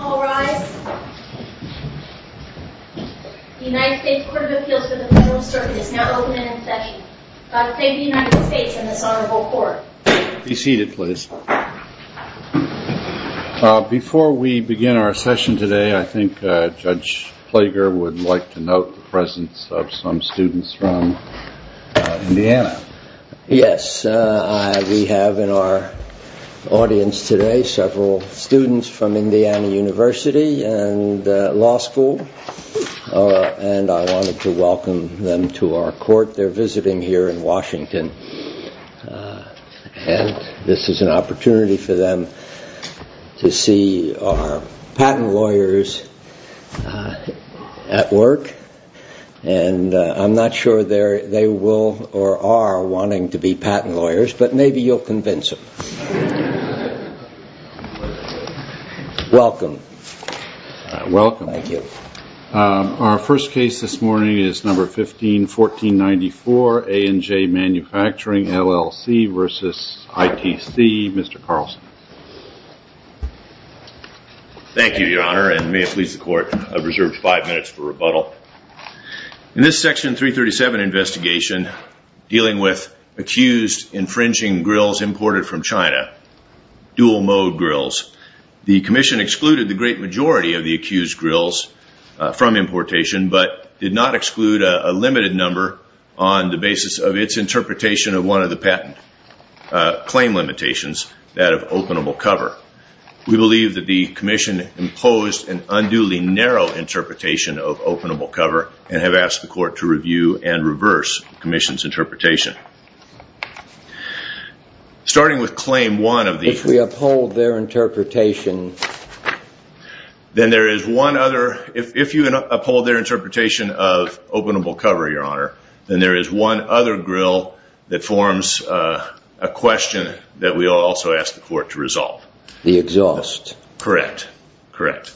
All rise. The United States Court of Appeals for the Federal Circuit is now open and in session. I thank the United States and this honorable court. Be seated please. Before we begin our session today, I think Judge Plager would like to note the presence of some students from Indiana. Yes, we have in our audience today several students from Indiana University and law school and I wanted to welcome them to our court. They're visiting here in Washington and this is an opportunity for them to see our patent lawyers at work and I'm not sure they will or are wanting to be patent lawyers but maybe you'll convince them. Welcome. Welcome. Thank you. Our first case this morning is number 15-1494 A&J Manufacturing, LLC v. ITC. Mr. Carlson. Thank you, Your Honor, and may it please the court, I've reserved five minutes for rebuttal. In this section 337 investigation dealing with accused infringing grills imported from China, dual mode grills, the commission excluded the great majority of the accused grills from importation but did not exclude a limited number on the basis of its interpretation of one of the patent claim limitations that of openable cover. We believe that the commission imposed an unduly narrow interpretation of openable cover and have asked the court to review and reverse the commission's interpretation. Starting with claim one of the... If we uphold their interpretation. Then there is one other... If you uphold their interpretation of openable cover, Your Honor, then there is one other grill that forms a question that we also ask the court to resolve. The exhaust. Correct. Correct.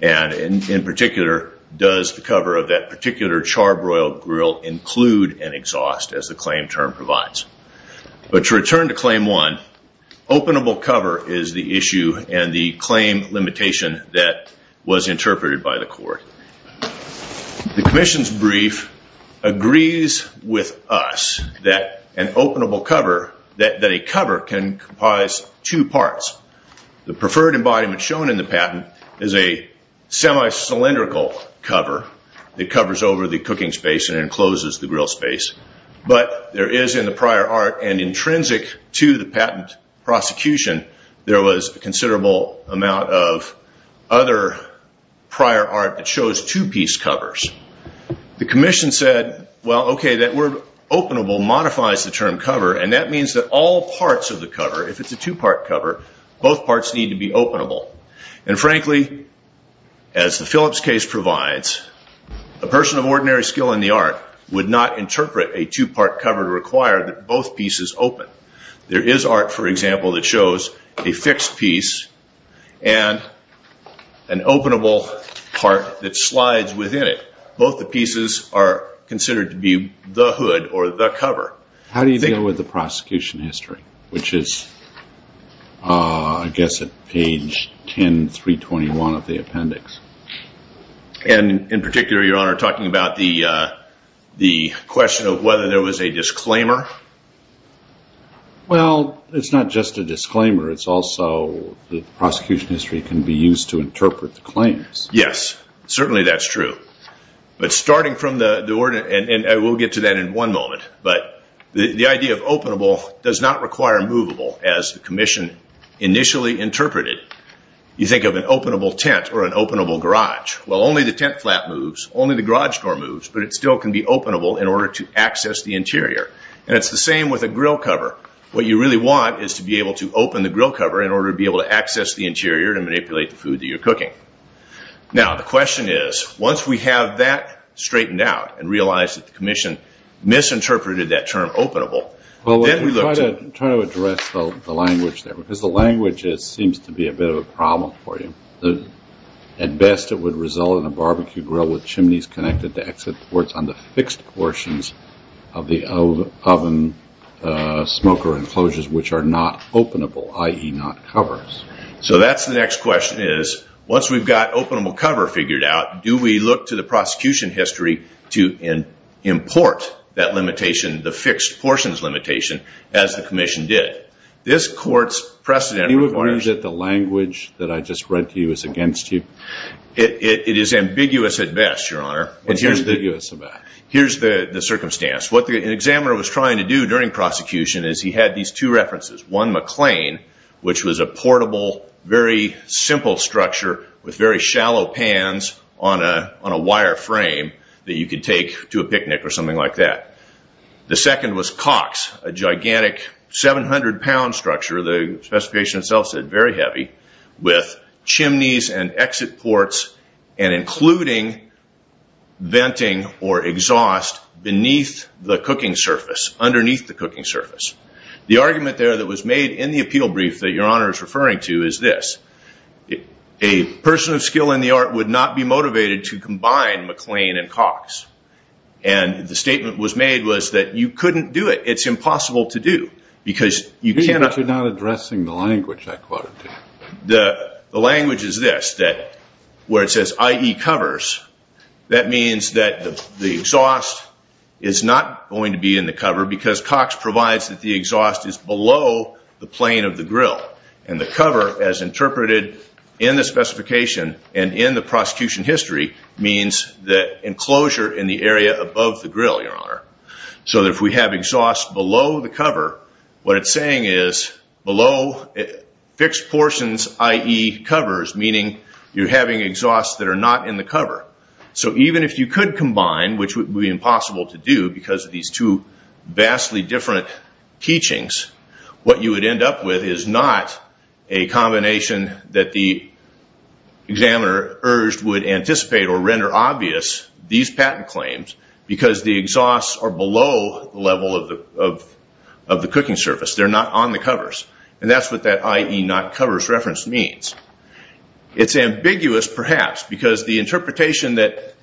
And in particular, does the cover of that particular charbroil grill include an exhaust as the claim term provides. But to return to claim one, openable cover is the issue and the claim limitation that was interpreted by the court. The commission's brief agrees with us that an openable cover, that a cover can comprise two parts. The preferred embodiment shown in the patent is a semi-cylindrical cover that covers over the cooking space and encloses the grill space. But there is in the prior art and intrinsic to the patent prosecution, there was a considerable amount of other prior art that shows two-piece covers. The commission said, well, okay, that word openable modifies the term cover and that means that all parts of the cover, if it's a two-part cover, both parts need to be openable. And frankly, as the Phillips case provides, a person of ordinary skill in the art would not interpret a two-part cover to require that both pieces open. There is art, for example, that shows a fixed piece and an openable part that slides within it. Both the pieces are considered to be the hood or the cover. How do you deal with the prosecution history, which is, I guess, at page 10, 321 of the appendix? And in particular, your honor, talking about the question of whether there was a disclaimer. Well, it's not just a disclaimer, it's also the prosecution history can be used to interpret the claims. Yes, certainly that's true. But starting from the order, and we'll get to that in one moment, but the idea of openable does not require movable as the commission initially interpreted. You think of an openable tent or an openable garage. Well, only the tent flap moves, only the garage door moves, but it still can be openable in order to access the interior. And it's the same with a grill cover. What you really want is to be able to open the grill cover in order to be able to access the interior and manipulate the food that you're cooking. Now, the question is, once we have that straightened out and realized that the commission misinterpreted that term, openable, then we look to... Try to address the language there, because the language seems to be a bit of a problem for you. At best, it would result in a barbecue grill with chimneys connected to exit ports on the fixed portions of the oven smoker enclosures, which are not openable, i.e. not covers. So that's the next question is, once we've got openable cover figured out, do we look to the prosecution history to import that limitation, the fixed portions limitation, as the commission did? This court's precedent requires... You would argue that the language that I just read to you is against you? It is ambiguous at best, Your Honor. What's ambiguous about it? Here's the circumstance. What the examiner was trying to do during prosecution is he had these two references. One, McLean, which was a portable, very simple structure with very shallow pans on a wire frame that you could take to a picnic or something like that. The second was Cox, a gigantic 700-pound structure, the specification itself said very heavy, with chimneys and exit ports and including venting or exhaust beneath the cooking surface, underneath the cooking surface. The argument there that was made in the appeal brief that Your Honor is referring to is this. A person of skill in the art would not be motivated to combine McLean and Cox. And the statement was made was that you couldn't do it. It's impossible to do because you cannot... But you're not addressing the language I quoted to you. The language is this, that where it says IE covers, that means that the exhaust is not going to be in the cover because Cox provides that the exhaust is below the plane of the grill. And the cover, as interpreted in the specification and in the prosecution history, means the enclosure in the area above the grill, Your Honor. So that if we have exhaust below the cover, what it's saying is below fixed portions, IE covers, meaning you're having exhausts that are not in the cover. So even if you could combine, which would be impossible to do because of these two vastly different teachings, what you would end up with is not a combination that the examiner urged would anticipate or render obvious these patent claims because the exhausts are below the level of the cooking surface. They're not on the covers. And that's what that IE not covers reference means. It's ambiguous, perhaps, because the interpretation that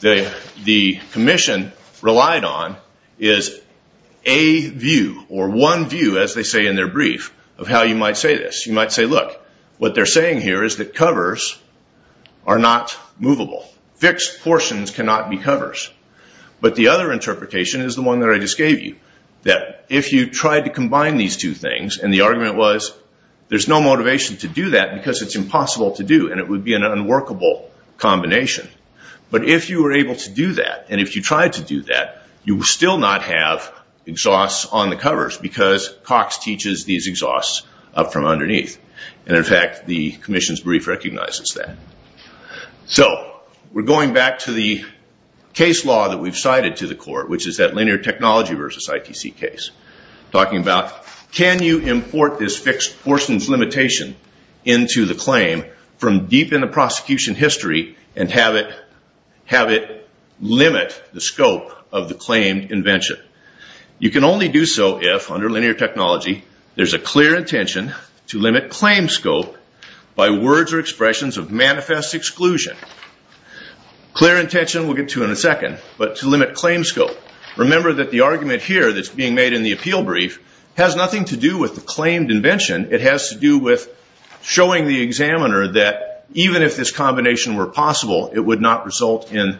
the commission relied on is a view or one view, as they say in their brief, of how you might say this. You might say, look, what they're saying here is that covers are not movable. Fixed portions cannot be covers. But the other interpretation is the one that I just gave you, that if you tried to combine these two things and the argument was there's no motivation to do that because it's impossible to do and it would be an unworkable combination. But if you were able to do that and if you tried to do that, you would still not have exhausts on the covers because Cox teaches these exhausts up from underneath. And, in fact, the commission's brief recognizes that. So we're going back to the case law that we've cited to the court, which is that linear technology versus ITC case. Talking about can you import this fixed portions limitation into the claim from deep in the prosecution history and have it limit the scope of the claim invention? You can only do so if, under linear technology, there's a clear intention to limit claim scope by words or expressions of manifest exclusion. Clear intention, we'll get to in a second, but to limit claim scope. Remember that the argument here that's being made in the appeal brief has nothing to do with the claimed invention. It has to do with showing the examiner that even if this combination were possible, it would not result in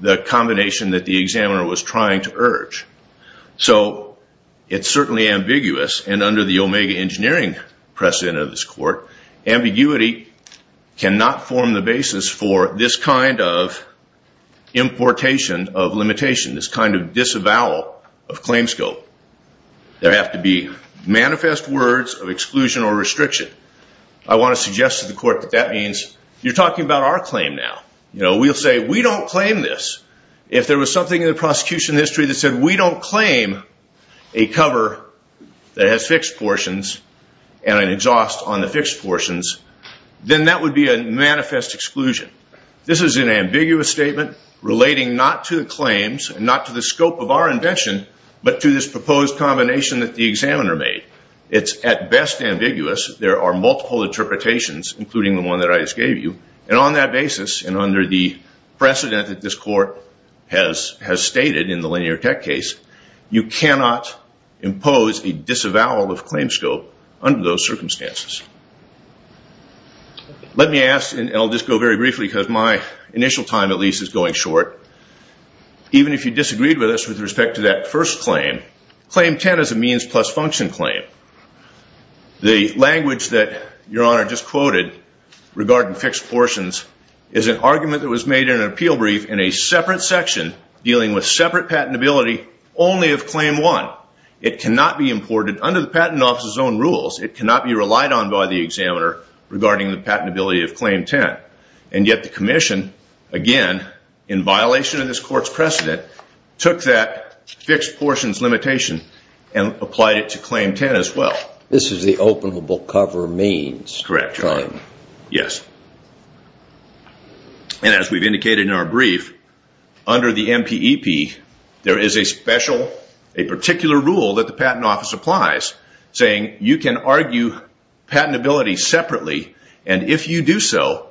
the combination that the examiner was trying to urge. So it's certainly ambiguous and under the Omega engineering precedent of this court, ambiguity cannot form the basis for this kind of importation of limitation, this kind of disavowal of claim scope. There have to be manifest words of exclusion or restriction. I want to suggest to the court that that means you're talking about our claim now. We'll say we don't claim this. If there was something in the prosecution history that said we don't claim a cover that has fixed portions and an exhaust on the fixed portions, then that would be a manifest exclusion. This is an ambiguous statement relating not to the claims, not to the scope of our invention, but to this proposed combination that the examiner made. It's at best ambiguous. There are multiple interpretations, including the one that I just gave you, and on that basis and under the precedent that this court has stated in the linear tech case, you cannot impose a disavowal of claim scope under those circumstances. Let me ask, and I'll just go very briefly because my initial time at least is going short. Even if you disagreed with us with respect to that first claim, claim 10 is a means plus function claim. The language that Your Honor just quoted regarding fixed portions is an argument that was made in an appeal brief in a separate section dealing with separate patentability only of claim 1. It cannot be imported under the Patent Office's own rules. It cannot be relied on by the examiner regarding the patentability of claim 10, and yet the commission, again, in violation of this court's precedent, took that fixed portions limitation and applied it to claim 10 as well. This is the openable cover means. Correct, Your Honor. Yes. And as we've indicated in our brief, under the MPEP, there is a particular rule that the Patent Office applies, saying you can argue patentability separately, and if you do so,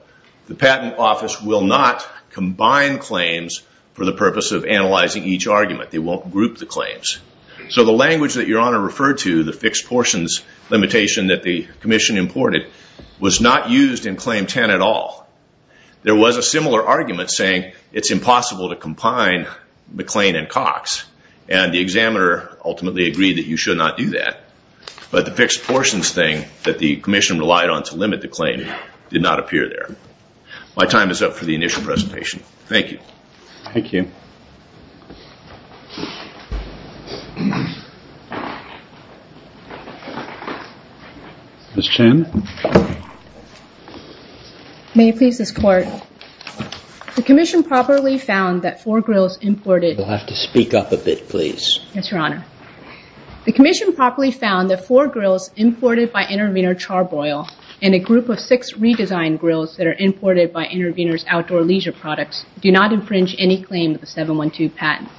the Patent Office will not combine claims for the purpose of analyzing each argument. They won't group the claims. So the language that Your Honor referred to, the fixed portions limitation that the commission imported, was not used in claim 10 at all. There was a similar argument saying it's impossible to combine McLean and Cox, and the examiner ultimately agreed that you should not do that, but the fixed portions thing that the commission relied on to limit the claim did not appear there. My time is up for the initial presentation. Thank you. Thank you. Ms. Chen? May it please this court, the commission properly found that four grills imported... You'll have to speak up a bit, please. Yes, Your Honor. The commission properly found that four grills imported by Intervenor Char-Broil, and a group of six redesigned grills that are imported by Intervenor's Outdoor Leisure Products, do not infringe any claim of the 712 patent.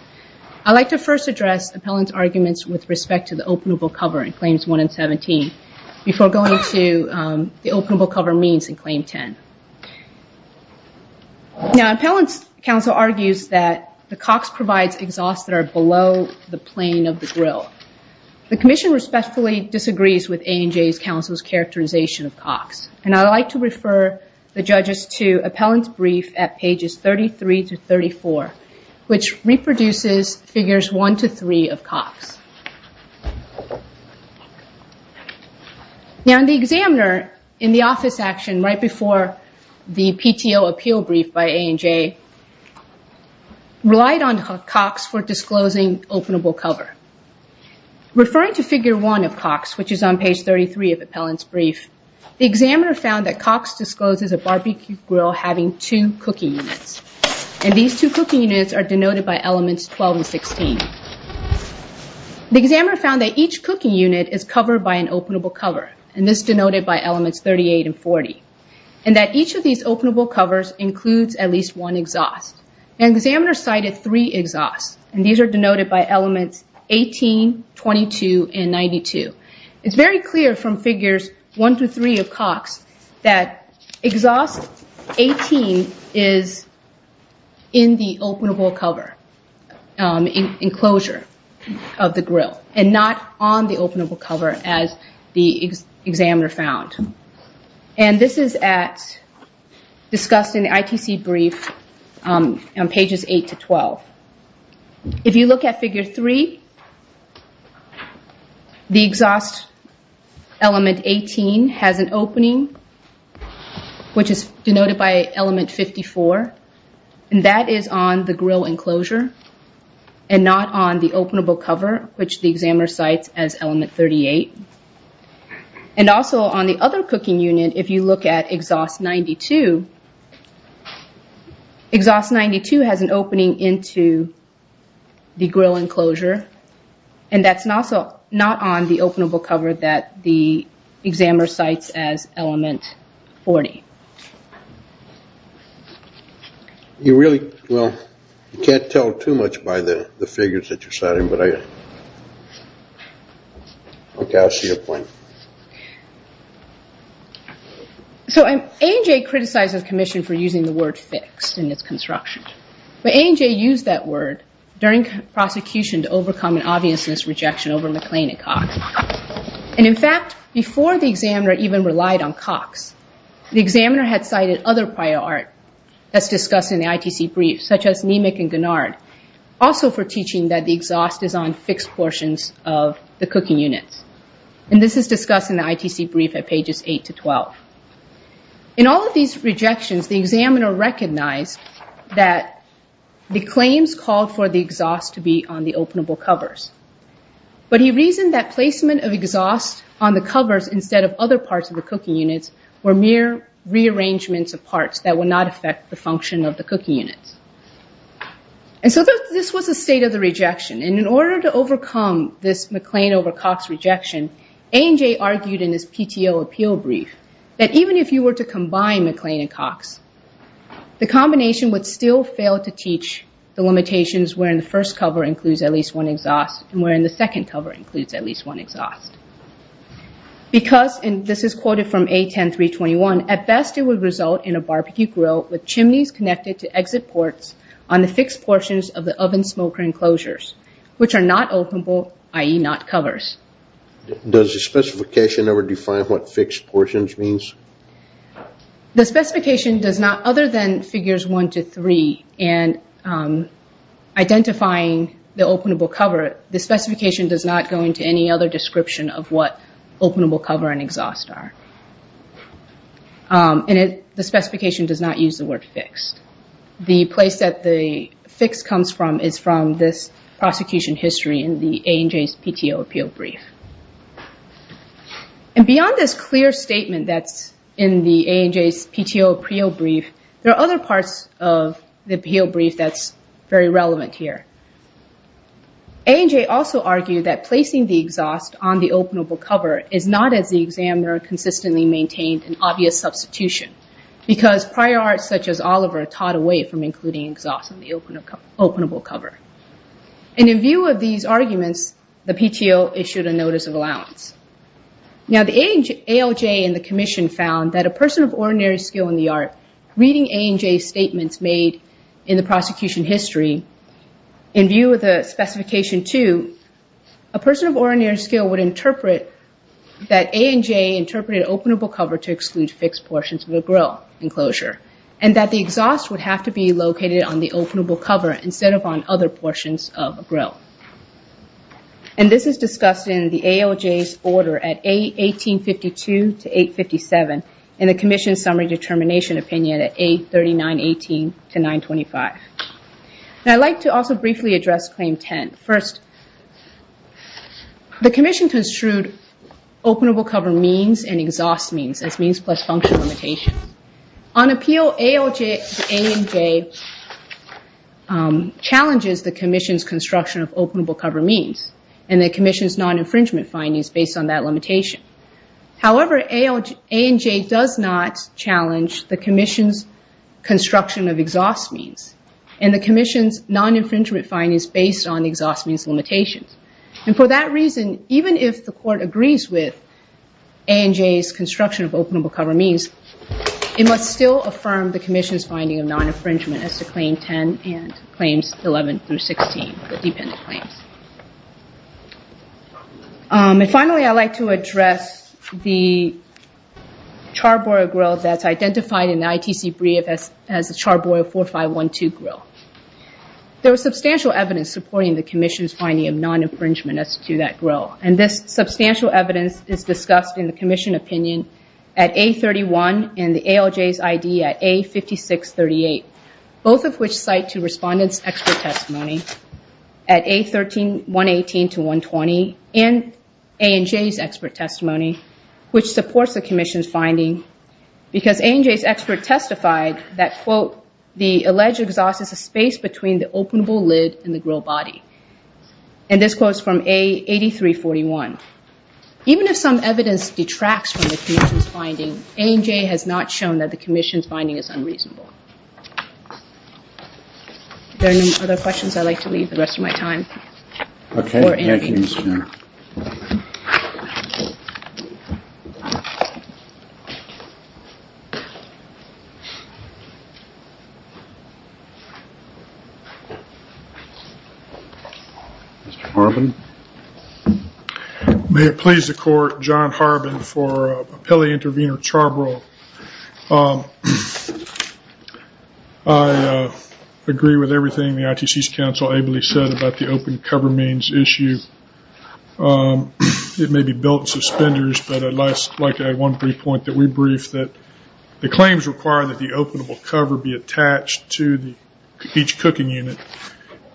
I'd like to first address appellant's arguments with respect to the openable cover in claims 1 and 17, before going to the openable cover means in claim 10. Now, appellant's counsel argues that the Cox provides exhausts that are below the plane of the grill. The commission respectfully disagrees with ANJ's counsel's characterization of Cox. I'd like to refer the judges to appellant's brief at pages 33 to 34, which reproduces figures 1 to 3 of Cox. Now, the examiner in the office action right before the PTO appeal brief by ANJ relied on Cox for disclosing openable cover. Referring to figure 1 of Cox, which is on page 33 of appellant's brief, the examiner found that Cox discloses a barbecue grill having two cooking units. These two cooking units are denoted by elements 12 and 16. The examiner found that each cooking unit is covered by an openable cover, and this is denoted by elements 38 and 40, and that each of these openable covers includes at least one exhaust. The examiner cited three exhausts, and these are denoted by elements 18, 22, and 92. It's very clear from figures 1 to 3 of Cox that exhaust 18 is in the openable cover enclosure of the grill, and not on the openable cover as the examiner found. This is discussed in the ITC brief on pages 8 to 12. If you look at figure 3, the exhaust element 18 has an opening, which is denoted by element 54, and that is on the grill enclosure, and not on the openable cover, which the examiner cites as element 38. Also, on the other cooking unit, if you look at exhaust 92, exhaust 92 has an opening into the grill enclosure, and that's not on the openable cover that the examiner cites as element 40. You really, well, you can't tell too much by the figures that you're citing, but I, okay, I see your point. So ANJ criticized the commission for using the word fixed in its construction, but ANJ used that word during prosecution to overcome an obviousness rejection over McLean and Cox, and in fact, before the examiner even relied on Cox, the examiner had cited other prior art that's discussed in the ITC brief, such as Nemec and Gennard, also for teaching that the exhaust is on fixed portions of the cooking units, and this is discussed in the ITC brief at pages 8 to 12. In all of these rejections, the examiner recognized that the claims called for the exhaust to be on the openable covers, but he reasoned that placement of exhaust on the covers instead of other parts of the cooking units were mere rearrangements of parts that would not affect the function of the cooking units. And so this was a state of the rejection, and in order to overcome this McLean over Cox rejection, ANJ argued in this PTO appeal brief that even if you were to combine McLean and Cox, the combination would still fail to teach the limitations wherein the first cover includes at least one exhaust, and wherein the second cover includes at least one exhaust. Because, and this is quoted from A10-321, at best it would result in a barbecue grill with chimneys connected to exit ports on the fixed portions of the oven smoker enclosures, which are not openable, i.e. not covers. Does the specification ever define what fixed portions means? The specification does not, other than figures one to three and identifying the openable cover, the specification does not go into any other description of what openable cover and exhaust are. And the specification does not use the word fixed. The place that the fixed comes from is from this prosecution history in the ANJ's PTO appeal brief. And beyond this clear statement that's in the ANJ's PTO appeal brief, there are other parts of the appeal brief that's very relevant here. ANJ also argued that placing the exhaust on the openable cover is not, as the examiner consistently maintained, an obvious substitution, because prior arts such as Oliver taught away from including exhaust on the openable cover. And in view of these arguments, the PTO issued a notice of allowance. Now the ALJ and the commission found that a person of ordinary skill in the art, reading ANJ's statements made in the prosecution history, in view of the specification two, a person of ordinary skill would interpret that ANJ interpreted openable cover to exclude fixed portions of the grill enclosure, and that the exhaust would have to be located on the openable cover instead of on other portions of a grill. And this is discussed in the ALJ's order at 1852 to 857, and the commission's summary determination opinion at 83918 to 925. Now I'd like to also briefly address claim 10. First, the commission construed openable cover means and exhaust means as means plus function limitations. On appeal, ALJ to ANJ challenges the commission's construction of openable cover means, and the commission's non-infringement findings based on that limitation. However, ANJ does not challenge the commission's construction of exhaust means, and the commission's non-infringement findings based on exhaust means limitations. And for that reason, even if the court agrees with ANJ's construction of openable cover means, it must still affirm the commission's finding of non-infringement as to claim 10 and claims 11 through 16, the dependent claims. And finally, I'd like to address the charbroiled grill that's identified in the ITC brief as a charbroiled 4512 grill. There was substantial evidence supporting the commission's finding of non-infringement as to that grill, and this substantial evidence is discussed in the commission opinion at A31 and the ALJ's ID at A5638, both of which cite to respondent's expert testimony at A118 to 120 and ANJ's expert testimony, which supports the commission's finding because ANJ's expert testified that, quote, the alleged exhaust is a space between the openable lid and the grill body. And this quote is from A8341. Even if some evidence detracts from the commission's finding, ANJ has not shown that the commission's finding is unreasonable. Are there any other questions I'd like to leave the rest of my time? Okay. Mr. Harbin? May it please the court, John Harbin for a PILI intervener charbroiled. I agree with everything the ITC's counsel ably said about the open cover means issue. It may be built in suspenders, but I'd like to add one brief point that we briefed that the claims require that the openable cover be attached to each cooking unit.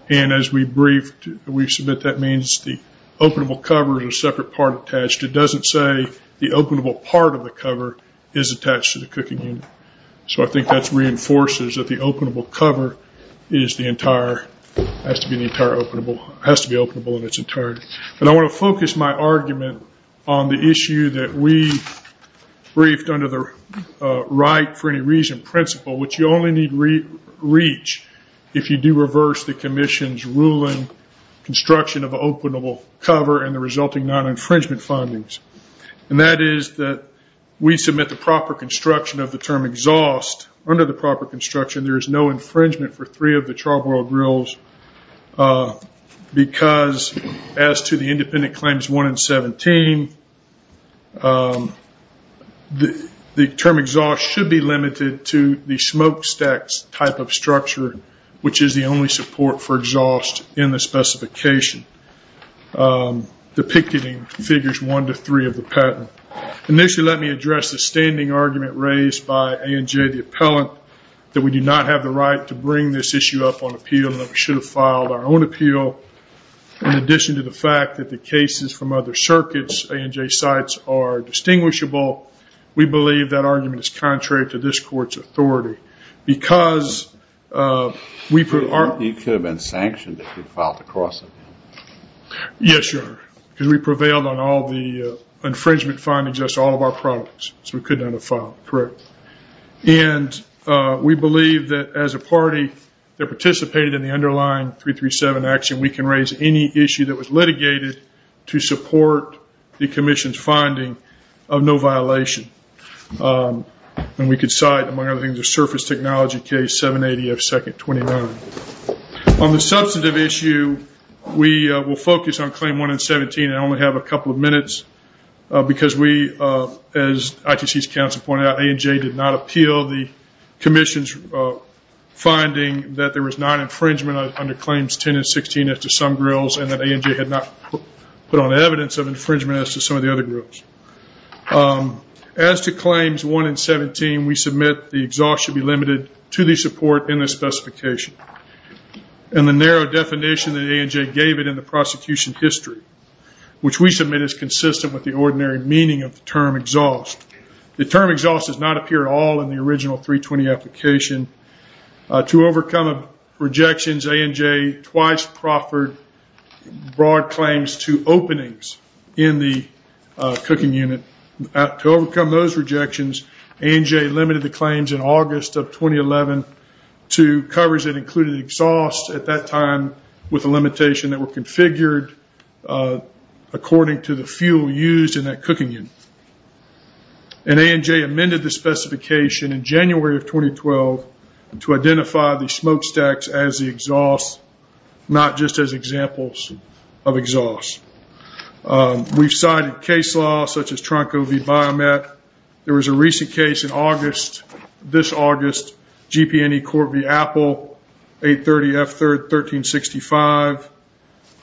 And as we briefed, we submit that means the openable cover is a separate part attached. It doesn't say the openable part of the cover is attached to the cooking unit. So I think that reinforces that the openable cover has to be openable in its entirety. And I want to focus my argument on the issue that we briefed under the right for any reason principle, which you only need reach if you do reverse the commission's ruling, construction of an openable cover and the resulting non-infringement findings. And that is that we submit the proper construction of the term exhaust. Under the proper construction, there is no infringement for three of the charbroiled grills because as to the independent claims one and 17, the term exhaust should be limited to the smokestacks type of structure, which is the only support for exhaust in the specification, depicted in figures one to three of the patent. Initially, let me address the standing argument raised by ANJ, the appellant, that we do not have the right to bring this issue up on appeal and that we should have filed our own appeal. In addition to the fact that the cases from other circuits, ANJ sites, are distinguishable, we believe that argument is contrary to this court's authority. You could have been sanctioned if you filed the cross-appeal. Yes, because we prevailed on all the infringement findings of all of our products, so we could not have filed. And we believe that as a party that participated in the underlying 337 action, we can raise any issue that was litigated to support the commission's finding of no violation. And we could cite, among other things, the surface technology case 780 of second 29. On the substantive issue, we will focus on claim one and 17 and only have a couple of minutes, because we, as ITC's counsel pointed out, ANJ did not appeal the commission's finding that there was non-infringement under claims 10 and 16 as to some grills, and that ANJ had not put on evidence of infringement as to some of the other grills. As to claims 1 and 17, we submit the exhaust should be limited to the support in the specification. And the narrow definition that ANJ gave it in the prosecution history, which we submit is consistent with the ordinary meaning of the term exhaust. The term exhaust does not appear at all in the original 320 application. To overcome rejections, ANJ twice proffered broad claims to openings in the cooking unit. To overcome those rejections, ANJ limited the claims in August of 2011 to covers that included exhaust at that time with a limitation that were configured according to the fuel used in that cooking unit. And ANJ amended the specification in January of 2012 to identify the smokestacks as the exhaust, not just as examples of exhaust. We've cited case laws such as Tronco v. Biomet. There was a recent case in August, this August, GP&E Court v. Apple, 830 F3rd 1365,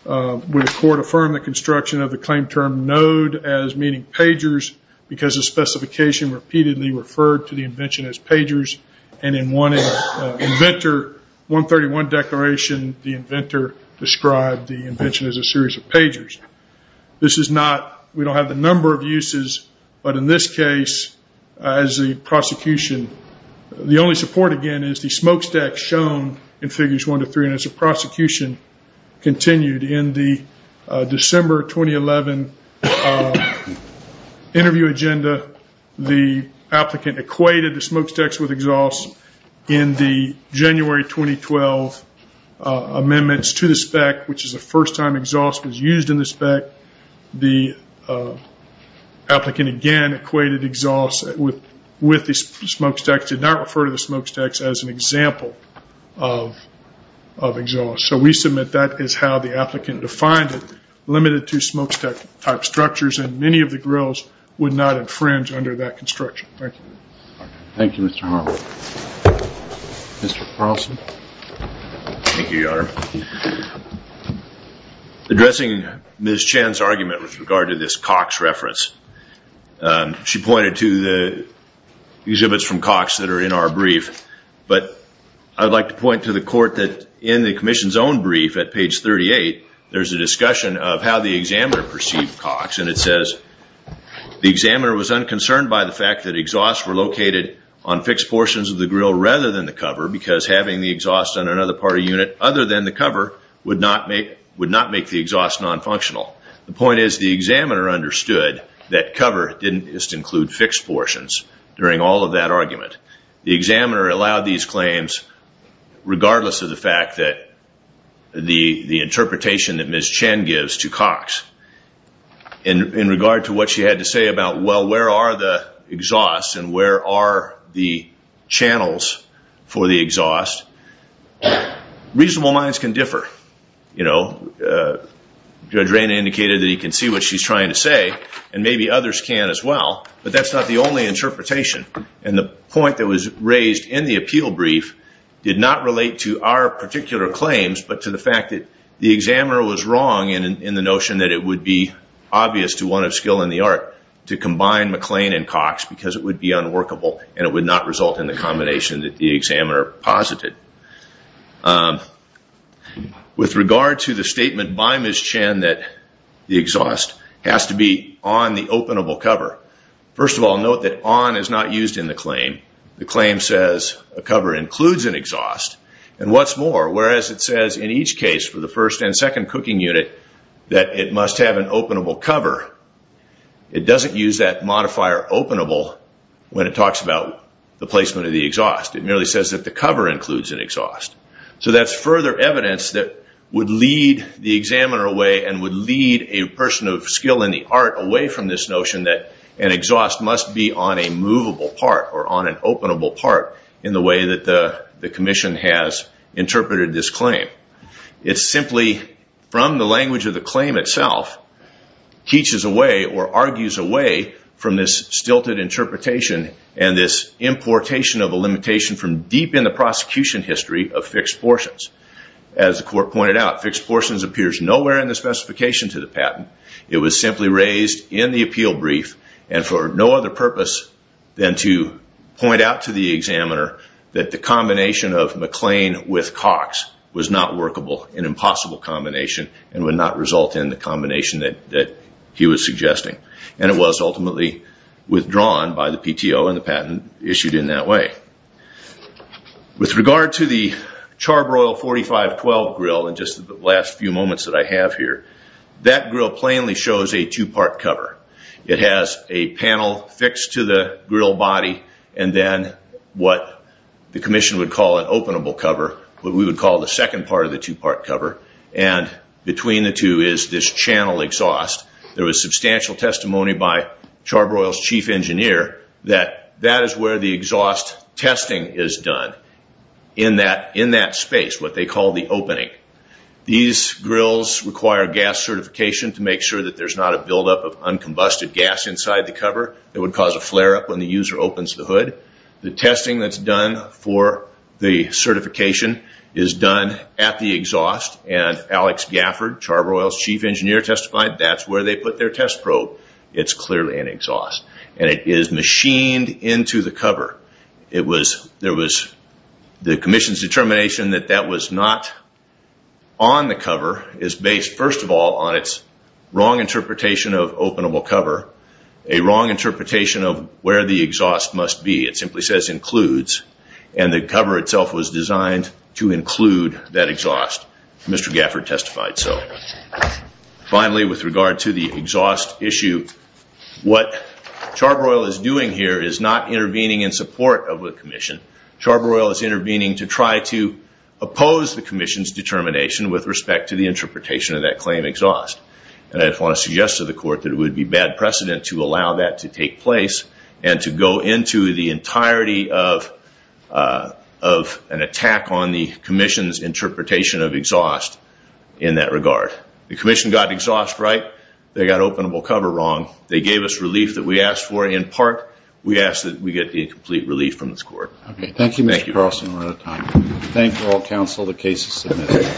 where the court affirmed the construction of the claim term node as meaning pagers because the specification repeatedly referred to the invention as pagers. And in Inventor 131 declaration, the inventor described the invention as a series of pagers. This is not, we don't have the number of uses, but in this case, as the prosecution, the only support again is the smokestack shown in figures one to three. And as the prosecution continued in the December 2011 interview agenda, the applicant equated the smokestacks with exhaust in the January 2012 amendments to the spec, which is the first time exhaust was used in the spec. The applicant again equated exhaust with the smokestacks, did not refer to the smokestacks as an example of exhaust. So we submit that is how the applicant defined it, limited to smokestack type structures and many of the grills would not infringe under that construction. Thank you. Thank you, Mr. Harlan. Mr. Carlson. Thank you, Your Honor. Addressing Ms. Chen's argument with regard to this Cox reference, she pointed to the exhibits from Cox that are in our brief. But I'd like to point to the court that in the commission's own brief at page 38, there's a discussion of how the examiner perceived Cox and it says, the examiner was unconcerned by the fact that exhausts were located on fixed portions of the grill rather than the cover because having the exhaust on another part of the unit other than the cover would not make the exhaust non-functional. The point is the examiner understood that cover didn't just include fixed portions during all of that argument. The examiner allowed these claims regardless of the fact that the interpretation that Ms. Chen gives to Cox. In regard to what she had to say about, well, where are the exhausts and where are the channels for the exhaust, reasonable minds can differ. Judge Raina indicated that he can see what she's trying to say and maybe others can as well. But that's not the only interpretation. And the point that was raised in the appeal brief did not relate to our particular claims but to the fact that the examiner was wrong in the notion that it would be obvious to one of skill and the art to combine McLean and Cox because it would be unworkable and it would not result in the combination that the examiner posited. With regard to the statement by Ms. Chen that the exhaust has to be on the openable cover, first of all note that on is not used in the claim. The claim says a cover includes an exhaust and what's more, whereas it says in each case for the first and second cooking unit that it must have an openable cover, it doesn't use that modifier openable when it talks about the placement of the exhaust. It merely says that the cover includes an exhaust. So that's further evidence that would lead the examiner away and would lead a person of skill and the art away from this notion that an exhaust must be on a movable part or on an openable part in the way that the language of the claim itself teaches away or argues away from this stilted interpretation and this importation of a limitation from deep in the prosecution history of fixed portions. As the court pointed out, fixed portions appears nowhere in the specification to the patent. It was simply raised in the appeal brief and for no other purpose than to point out to the examiner that the combination of would not result in the combination that he was suggesting. And it was ultimately withdrawn by the PTO and the patent issued in that way. With regard to the Charbroil 4512 grill in just the last few moments that I have here, that grill plainly shows a two part cover. It has a panel fixed to the grill body and then what the commission would call an openable cover, what we would call the second part of the two part cover and between the two is this channel exhaust. There was substantial testimony by Charbroil's chief engineer that that is where the exhaust testing is done in that space, what they call the opening. These grills require gas certification to make sure that there's not a buildup of uncombusted gas inside the cover that would cause a flare up when the user opens the hood. The testing that's done for the certification is done at the exhaust and Alex Gafford, Charbroil's chief engineer, testified that's where they put their test probe. It's clearly an exhaust. And it is machined into the cover. The commission's determination that that was not on the cover is based first of all on its wrong interpretation of openable cover, a wrong interpretation of where the exhaust must be. It simply says includes and the cover itself was designed to include that exhaust. Mr. Gafford testified so. Finally, with regard to the exhaust issue, what Charbroil is doing here is not intervening in support of the commission. Charbroil is intervening to try to oppose the commission's determination with respect to the interpretation of that claim exhaust. And I want to suggest to the court that it would be bad precedent to allow that to take place and to go into the entirety of an attack on the commission's interpretation of exhaust in that regard. The commission got exhaust right. They got openable cover wrong. They gave us relief that we asked for and in part we asked that we get the complete relief from this court. Thank you, Mr. Carlson. We're out of time.